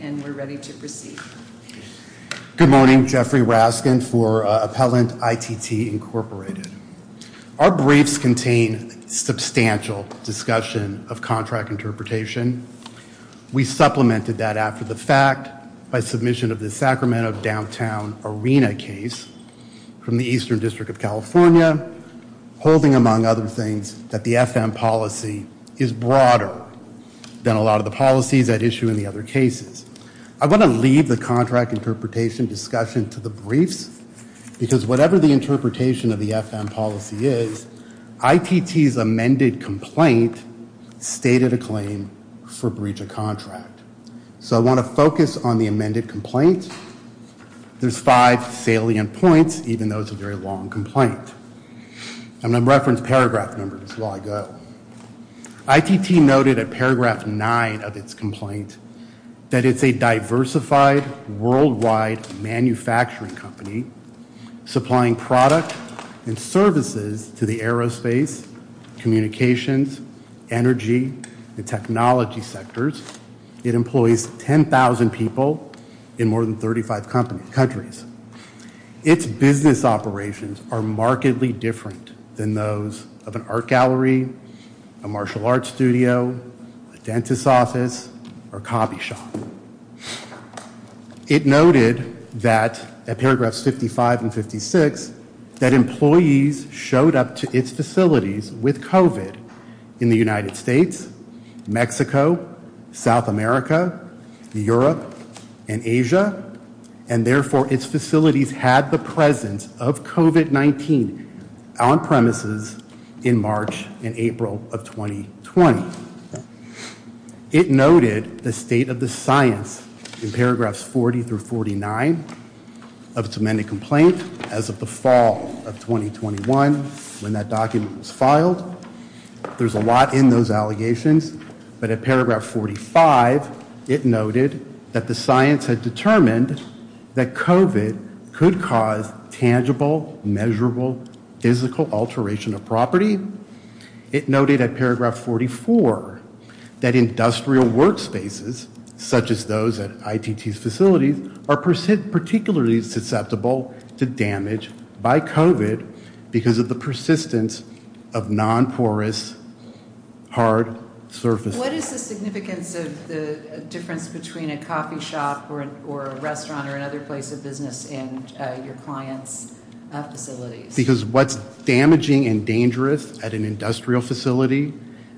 and we're ready to proceed. Good morning, Jeffrey Raskin for Appellant ITT Incorporated. Our briefs contain substantial discussion of contract interpretation. We supplemented that after the fact by submission of the Sacramento Downtown Arena case from the Eastern District of California, holding among other things that the FM policy is broad and broader than a lot of the policies at issue in the other cases. I want to leave the contract interpretation discussion to the briefs because whatever the interpretation of the FM policy is, ITT's amended complaint stated a claim for breach of contract. So I want to focus on the amended complaint. There's five salient points, even though it's a very long complaint. I'm going to reference paragraph numbers as I go. ITT noted at paragraph nine of its complaint that it's a diversified, worldwide manufacturing company supplying product and services to the aerospace, communications, energy, and technology sectors. It employs 10,000 people in more than 35 countries. Its business operations are markedly different than those of an art gallery, a martial arts studio, a dentist's office, or a coffee shop. It noted that at paragraphs 55 and 56, that employees showed up to its facilities with COVID in the United States, Mexico, South America, Europe, and Asia. And therefore, its facilities had the presence of COVID-19 on premises in March and April of 2020. It noted the state of the science in paragraphs 40 through 49 of its amended complaint as of the fall of 2021 when that document was filed. There's a lot in those allegations, but at paragraph 45, it noted that the science had determined that COVID could cause tangible, measurable, physical alteration of property. It noted at paragraph 44 that industrial workspaces, such as those at ITT's facilities, are particularly susceptible to damage by COVID because of the persistence of non-porous, hard surfaces. What is the significance of the difference between a coffee shop or a restaurant or another place of business and your client's facilities? Because what's damaging and dangerous at an industrial facility,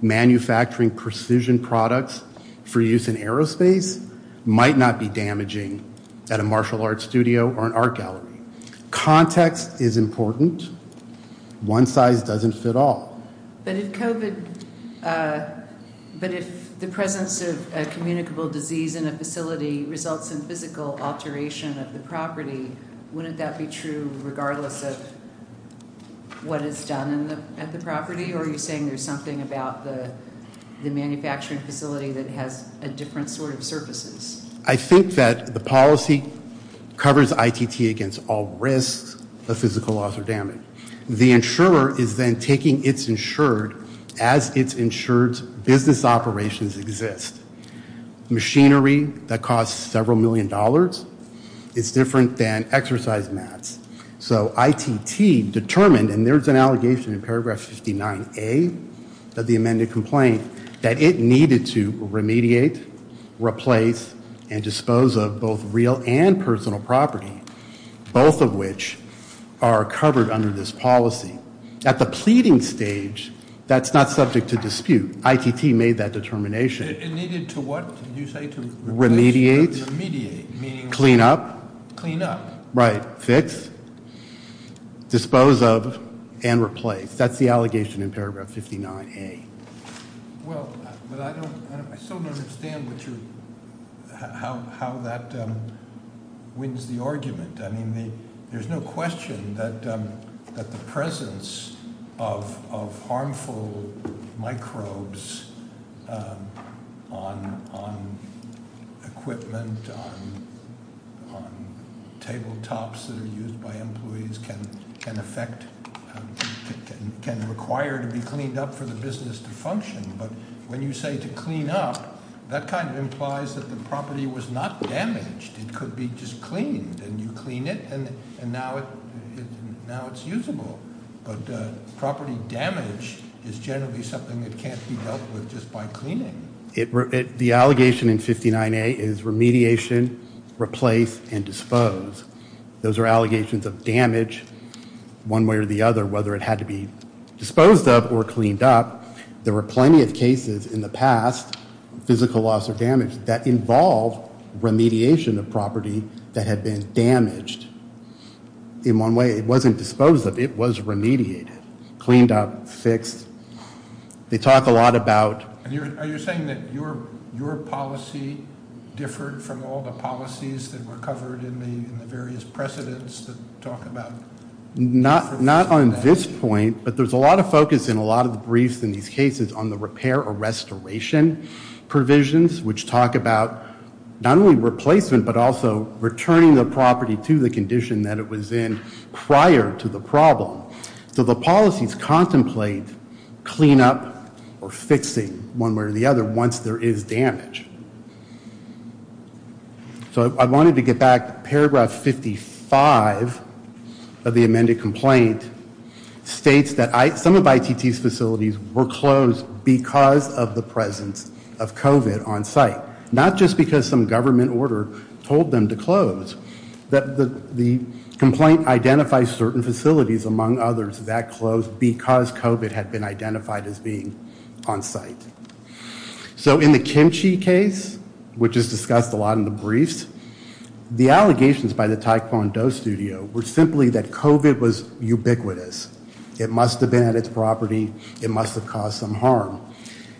manufacturing precision products for use in aerospace might not be damaging at a martial arts studio or an art gallery. Context is important. One size doesn't fit all. But if COVID, but if the presence of a communicable disease in a facility results in physical alteration of the property, wouldn't that be true regardless of what is done at the property? Are you saying there's something about the manufacturing facility that has a different sort of surfaces? I think that the policy covers ITT against all risks of physical loss or damage. The insurer is then taking it's insured as it's insured business operations exist. Machinery that costs several million dollars is different than exercise mats. So ITT determined, and there's an allegation in paragraph 59A of the amended complaint, that it needed to remediate, replace, and dispose of both real and personal property. Both of which are covered under this policy. At the pleading stage, that's not subject to dispute. ITT made that determination. It needed to what, did you say? Remediate? Remediate. Clean up? Clean up. Right, fix, dispose of, and replace. That's the allegation in paragraph 59A. Well, but I don't, I still don't understand how that wins the argument. There's no question that the presence of harmful microbes on equipment, on table tops that are used by employees can affect, can require to be cleaned up for the business to function. But when you say to clean up, that kind of implies that the property was not damaged. It could be just cleaned, and you clean it, and now it's usable. But property damage is generally something that can't be dealt with just by cleaning. The allegation in 59A is remediation, replace, and dispose. Those are allegations of damage one way or the other, whether it had to be disposed of or cleaned up. There were plenty of cases in the past, physical loss or damage, that involved remediation of property that had been damaged in one way. It wasn't disposed of. It was remediated, cleaned up, fixed. They talk a lot about- Are you saying that your policy differed from all the policies that were covered in the various precedents that talk about- Not on this point, but there's a lot of focus in a lot of the briefs in these cases on the repair or restoration provisions, which talk about not only replacement, but also returning the property to the condition that it was in prior to the problem. So the policies contemplate cleanup or fixing one way or the other once there is damage. So I wanted to get back to paragraph 55 of the amended complaint. It states that some of ITT's facilities were closed because of the presence of COVID on site, not just because some government order told them to close. The complaint identifies certain facilities, among others, that closed because COVID had been identified as being on site. So in the Kimchi case, which is discussed a lot in the briefs, the allegations by the Taekwondo studio were simply that COVID was ubiquitous. It must have been at its property. It must have caused some harm.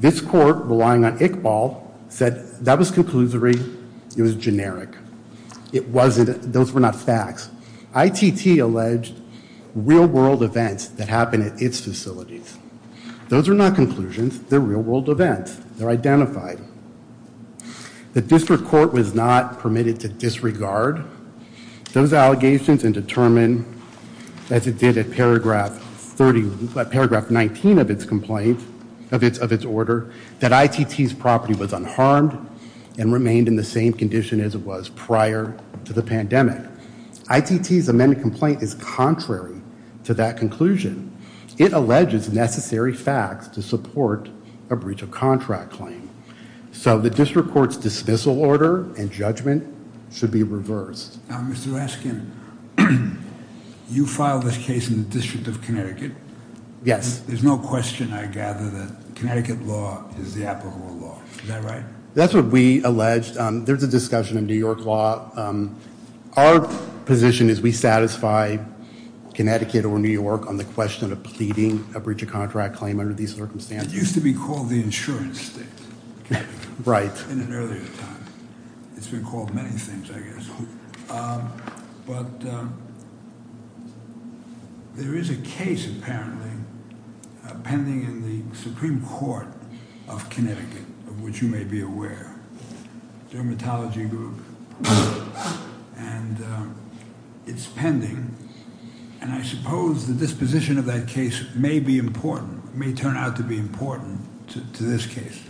This court, relying on Iqbal, said that was conclusory. It was generic. Those were not facts. ITT alleged real world events that happened at its facilities. Those are not conclusions. They're real world events. They're identified. The district court was not permitted to disregard those allegations and determine, as it did at paragraph 19 of its complaint, of its order, that ITT's property was unharmed and remained in the same condition as it was prior to the pandemic. ITT's amended complaint is contrary to that conclusion. It alleges necessary facts to support a breach of contract claim. So the district court's dismissal order and judgment should be reversed. Now, Mr. Laskin, you filed this case in the District of Connecticut. Yes. There's no question, I gather, that Connecticut law is the applicable law. Is that right? That's what we alleged. There's a discussion in New York law. Our position is we satisfy Connecticut or New York on the question of pleading a breach of contract claim under these circumstances. It used to be called the insurance state. Right. In an earlier time. It's been called many things, I guess. But there is a case, apparently, pending in the Supreme Court of Connecticut, of which you may be aware. Dermatology group. And it's pending. And I suppose the disposition of that case may be important, may turn out to be important to this case.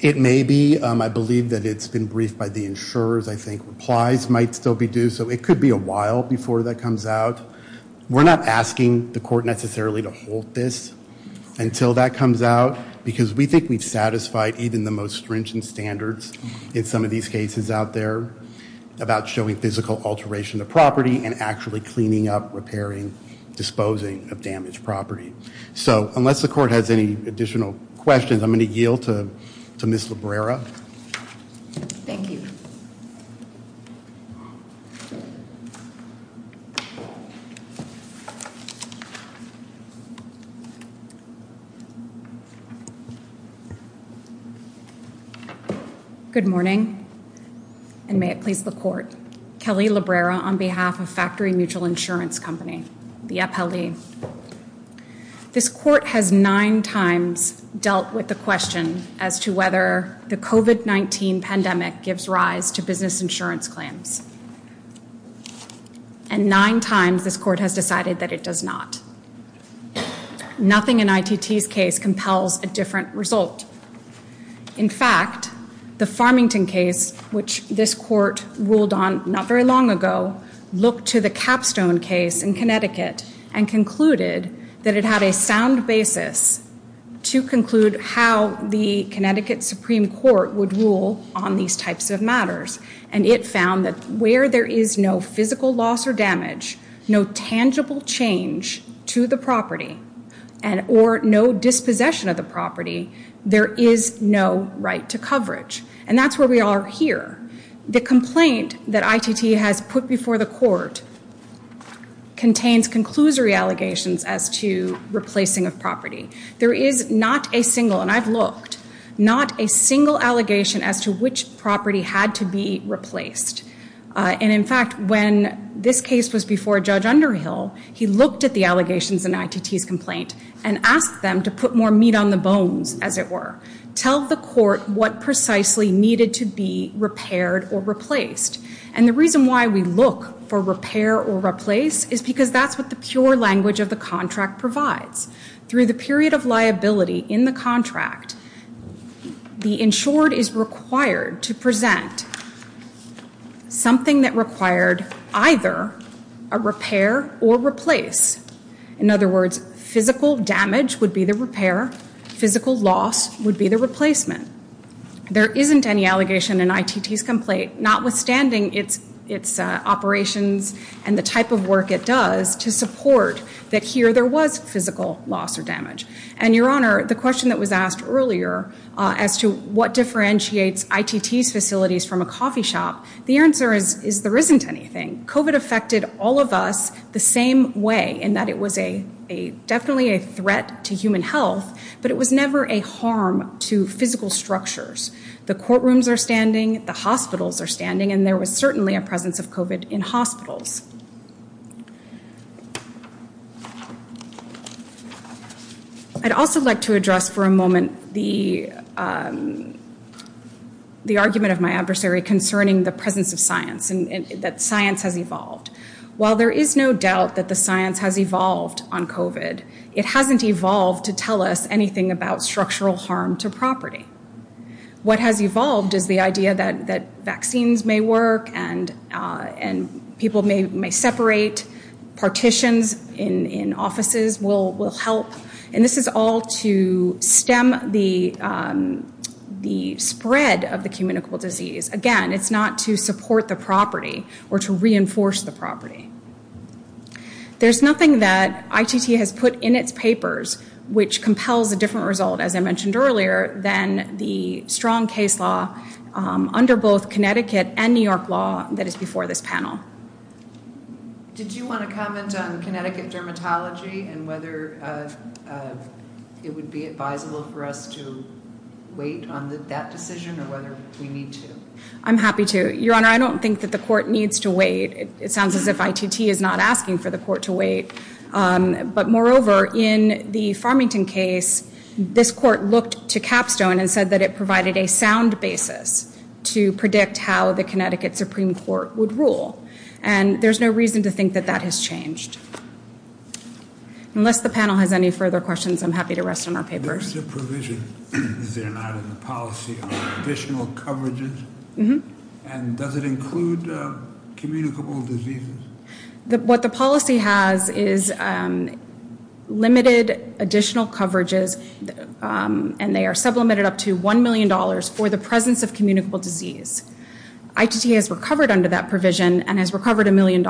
It may be. I believe that it's been briefed by the insurers. I think replies might still be due. So it could be a while before that comes out. We're not asking the court necessarily to hold this until that comes out. Because we think we've satisfied even the most stringent standards in some of these cases out there. About showing physical alteration of property and actually cleaning up, repairing, disposing of damaged property. So unless the court has any additional questions, I'm going to yield to Ms. Labrera. Thank you. Thank you. Good morning. And may it please the court. Kelly Labrera on behalf of Factory Mutual Insurance Company. The appellee. This court has nine times dealt with the question as to whether the COVID-19 pandemic gives rise to business insurance claims. And nine times this court has decided that it does not. Nothing in ITT's case compels a different result. In fact, the Farmington case, which this court ruled on not very long ago, looked to the Capstone case in Connecticut and concluded that it had a sound basis to conclude how the Connecticut Supreme Court would rule on these types of matters. And it found that where there is no physical loss or damage, no tangible change to the property, or no dispossession of the property, there is no right to coverage. And that's where we are here. The complaint that ITT has put before the court contains conclusory allegations as to replacing of property. There is not a single, and I've looked, not a single allegation as to which property had to be replaced. And in fact, when this case was before Judge Underhill, he looked at the allegations in ITT's complaint and asked them to put more meat on the bones, as it were. Tell the court what precisely needed to be repaired or replaced. And the reason why we look for repair or replace is because that's what the pure language of the contract provides. Through the period of liability in the contract, the insured is required to present something that required either a repair or replace. In other words, physical damage would be the repair. Physical loss would be the replacement. There isn't any allegation in ITT's complaint, notwithstanding its operations and the type of work it does, to support that here there was physical loss or damage. And, Your Honor, the question that was asked earlier as to what differentiates ITT's facilities from a coffee shop, the answer is there isn't anything. COVID affected all of us the same way, in that it was definitely a threat to human health, but it was never a harm to physical structures. The courtrooms are standing, the hospitals are standing, and there was certainly a presence of COVID in hospitals. I'd also like to address for a moment the argument of my adversary concerning the presence of science, and that science has evolved. While there is no doubt that the science has evolved on COVID, it hasn't evolved to tell us anything about structural harm to property. What has evolved is the idea that vaccines may work and people may separate. Partitions in offices will help. And this is all to stem the spread of the communicable disease. Again, it's not to support the property or to reinforce the property. There's nothing that ITT has put in its papers which compels a different result, as I mentioned earlier, than the strong case law under both Connecticut and New York law that is before this panel. Did you want to comment on Connecticut dermatology and whether it would be advisable for us to wait on that decision or whether we need to? I'm happy to. Your Honor, I don't think that the court needs to wait. It sounds as if ITT is not asking for the court to wait. But moreover, in the Farmington case, this court looked to Capstone and said that it provided a sound basis to predict how the Connecticut Supreme Court would rule. And there's no reason to think that that has changed. Unless the panel has any further questions, I'm happy to rest on our papers. Is there not in the policy additional coverages? And does it include communicable diseases? What the policy has is limited additional coverages, and they are sublimated up to $1 million for the presence of communicable disease. ITT has recovered under that provision and has recovered $1 million.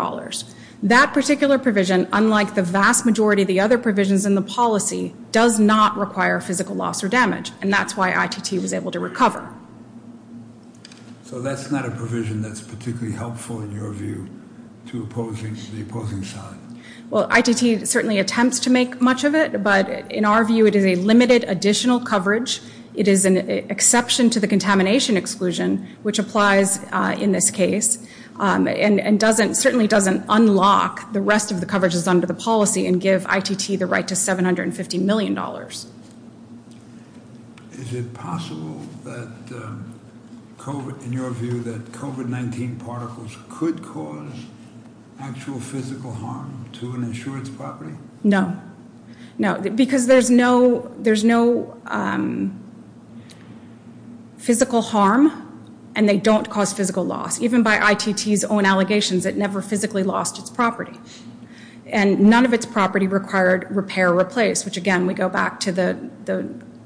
That particular provision, unlike the vast majority of the other provisions in the policy, does not require physical loss or damage, and that's why ITT was able to recover. So that's not a provision that's particularly helpful in your view to the opposing side? Well, ITT certainly attempts to make much of it, but in our view it is a limited additional coverage. It is an exception to the contamination exclusion, which applies in this case and certainly doesn't unlock the rest of the coverages under the policy and give ITT the right to $750 million. Is it possible that, in your view, that COVID-19 particles could cause actual physical harm to an insurance property? No, no, because there's no physical harm and they don't cause physical loss. Even by ITT's own allegations, it never physically lost its property, and none of its property required repair or replace, which again we go back to the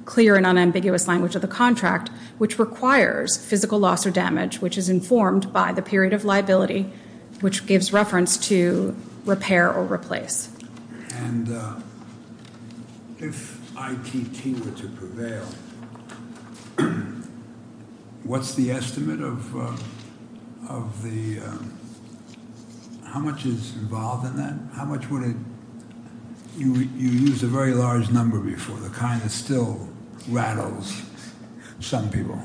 clear and unambiguous language of the contract, which requires physical loss or damage, which is informed by the period of liability, which gives reference to repair or replace. And if ITT were to prevail, what's the estimate of the, how much is involved in that? How much would it, you used a very large number before, the kind that still rattles some people.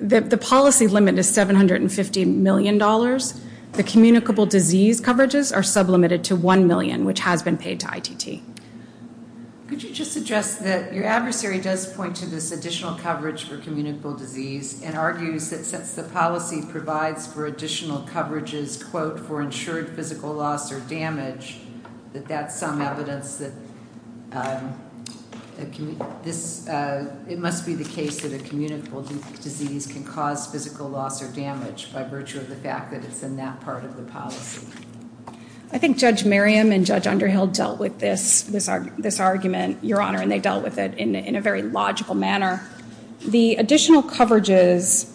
The policy limit is $750 million. The communicable disease coverages are sublimated to $1 million, which has been paid to ITT. Could you just address that your adversary does point to this additional coverage for communicable disease and argues that since the policy provides for additional coverages, quote, for insured physical loss or damage, that that's some evidence that it must be the case that a communicable disease can cause physical loss or damage by virtue of the fact that it's in that part of the policy? I think Judge Merriam and Judge Underhill dealt with this argument, Your Honor, and they dealt with it in a very logical manner. The additional coverages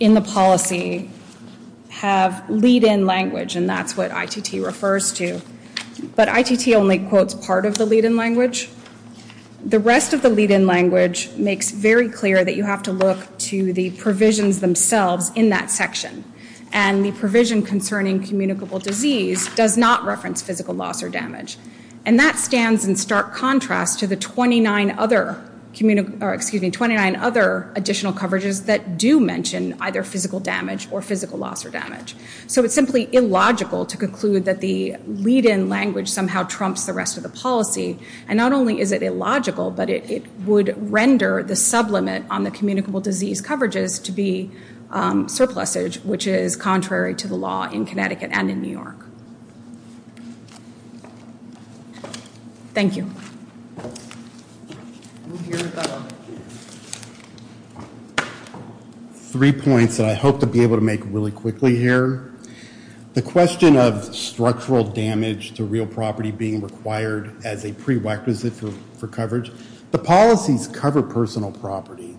in the policy have lead-in language, and that's what ITT refers to. But ITT only quotes part of the lead-in language. The rest of the lead-in language makes very clear that you have to look to the provisions themselves in that section, and the provision concerning communicable disease does not reference physical loss or damage. And that stands in stark contrast to the 29 other additional coverages that do mention either physical damage or physical loss or damage. So it's simply illogical to conclude that the lead-in language somehow trumps the rest of the policy, and not only is it illogical, but it would render the sublimit on the communicable disease coverages to be surplusage, which is contrary to the law in Connecticut and in New York. Thank you. Three points that I hope to be able to make really quickly here. The question of structural damage to real property being required as a prerequisite for coverage. The policies cover personal property,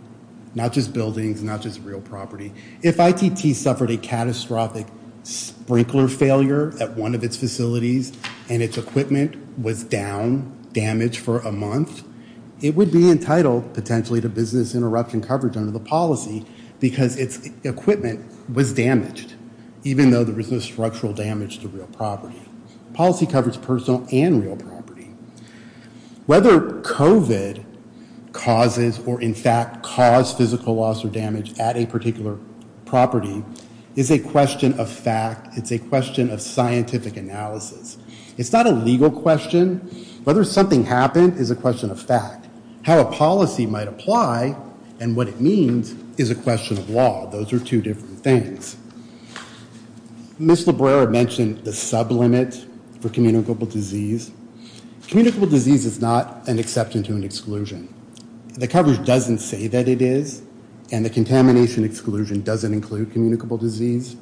not just buildings, not just real property. If ITT suffered a catastrophic sprinkler failure at one of its facilities and its equipment was down, damaged for a month, it would be entitled potentially to business interruption coverage under the policy because its equipment was damaged, even though there was no structural damage to real property. Policy covers personal and real property. Whether COVID causes or in fact caused physical loss or damage at a particular property is a question of fact. It's a question of scientific analysis. It's not a legal question. Whether something happened is a question of fact. How a policy might apply and what it means is a question of law. Those are two different things. Ms. Labrera mentioned the sublimit for communicable disease. Communicable disease is not an exception to an exclusion. The coverage doesn't say that it is, and the contamination exclusion doesn't include communicable disease.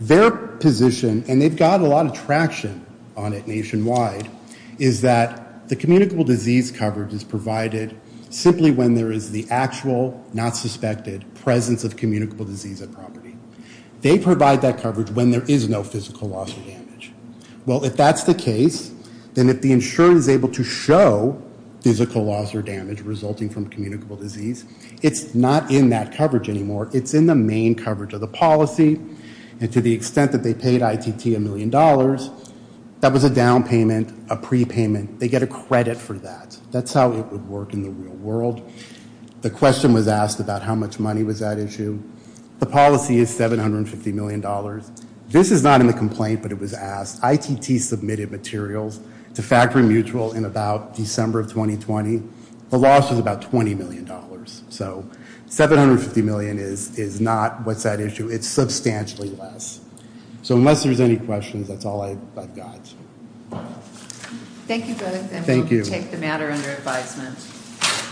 Their position, and they've got a lot of traction on it nationwide, is that the communicable disease coverage is provided simply when there is the actual, not suspected, presence of communicable disease at property. They provide that coverage when there is no physical loss or damage. Well, if that's the case, then if the insurer is able to show physical loss or damage resulting from communicable disease, it's not in that coverage anymore. It's in the main coverage of the policy, and to the extent that they paid ITT a million dollars, that was a down payment, a prepayment. They get a credit for that. That's how it would work in the real world. The question was asked about how much money was at issue. The policy is $750 million. This is not in the complaint, but it was asked. ITT submitted materials to Factory Mutual in about December of 2020. The loss was about $20 million. So $750 million is not what's at issue. It's substantially less. So unless there's any questions, that's all I've got. Thank you both, and we'll take the matter under advisement.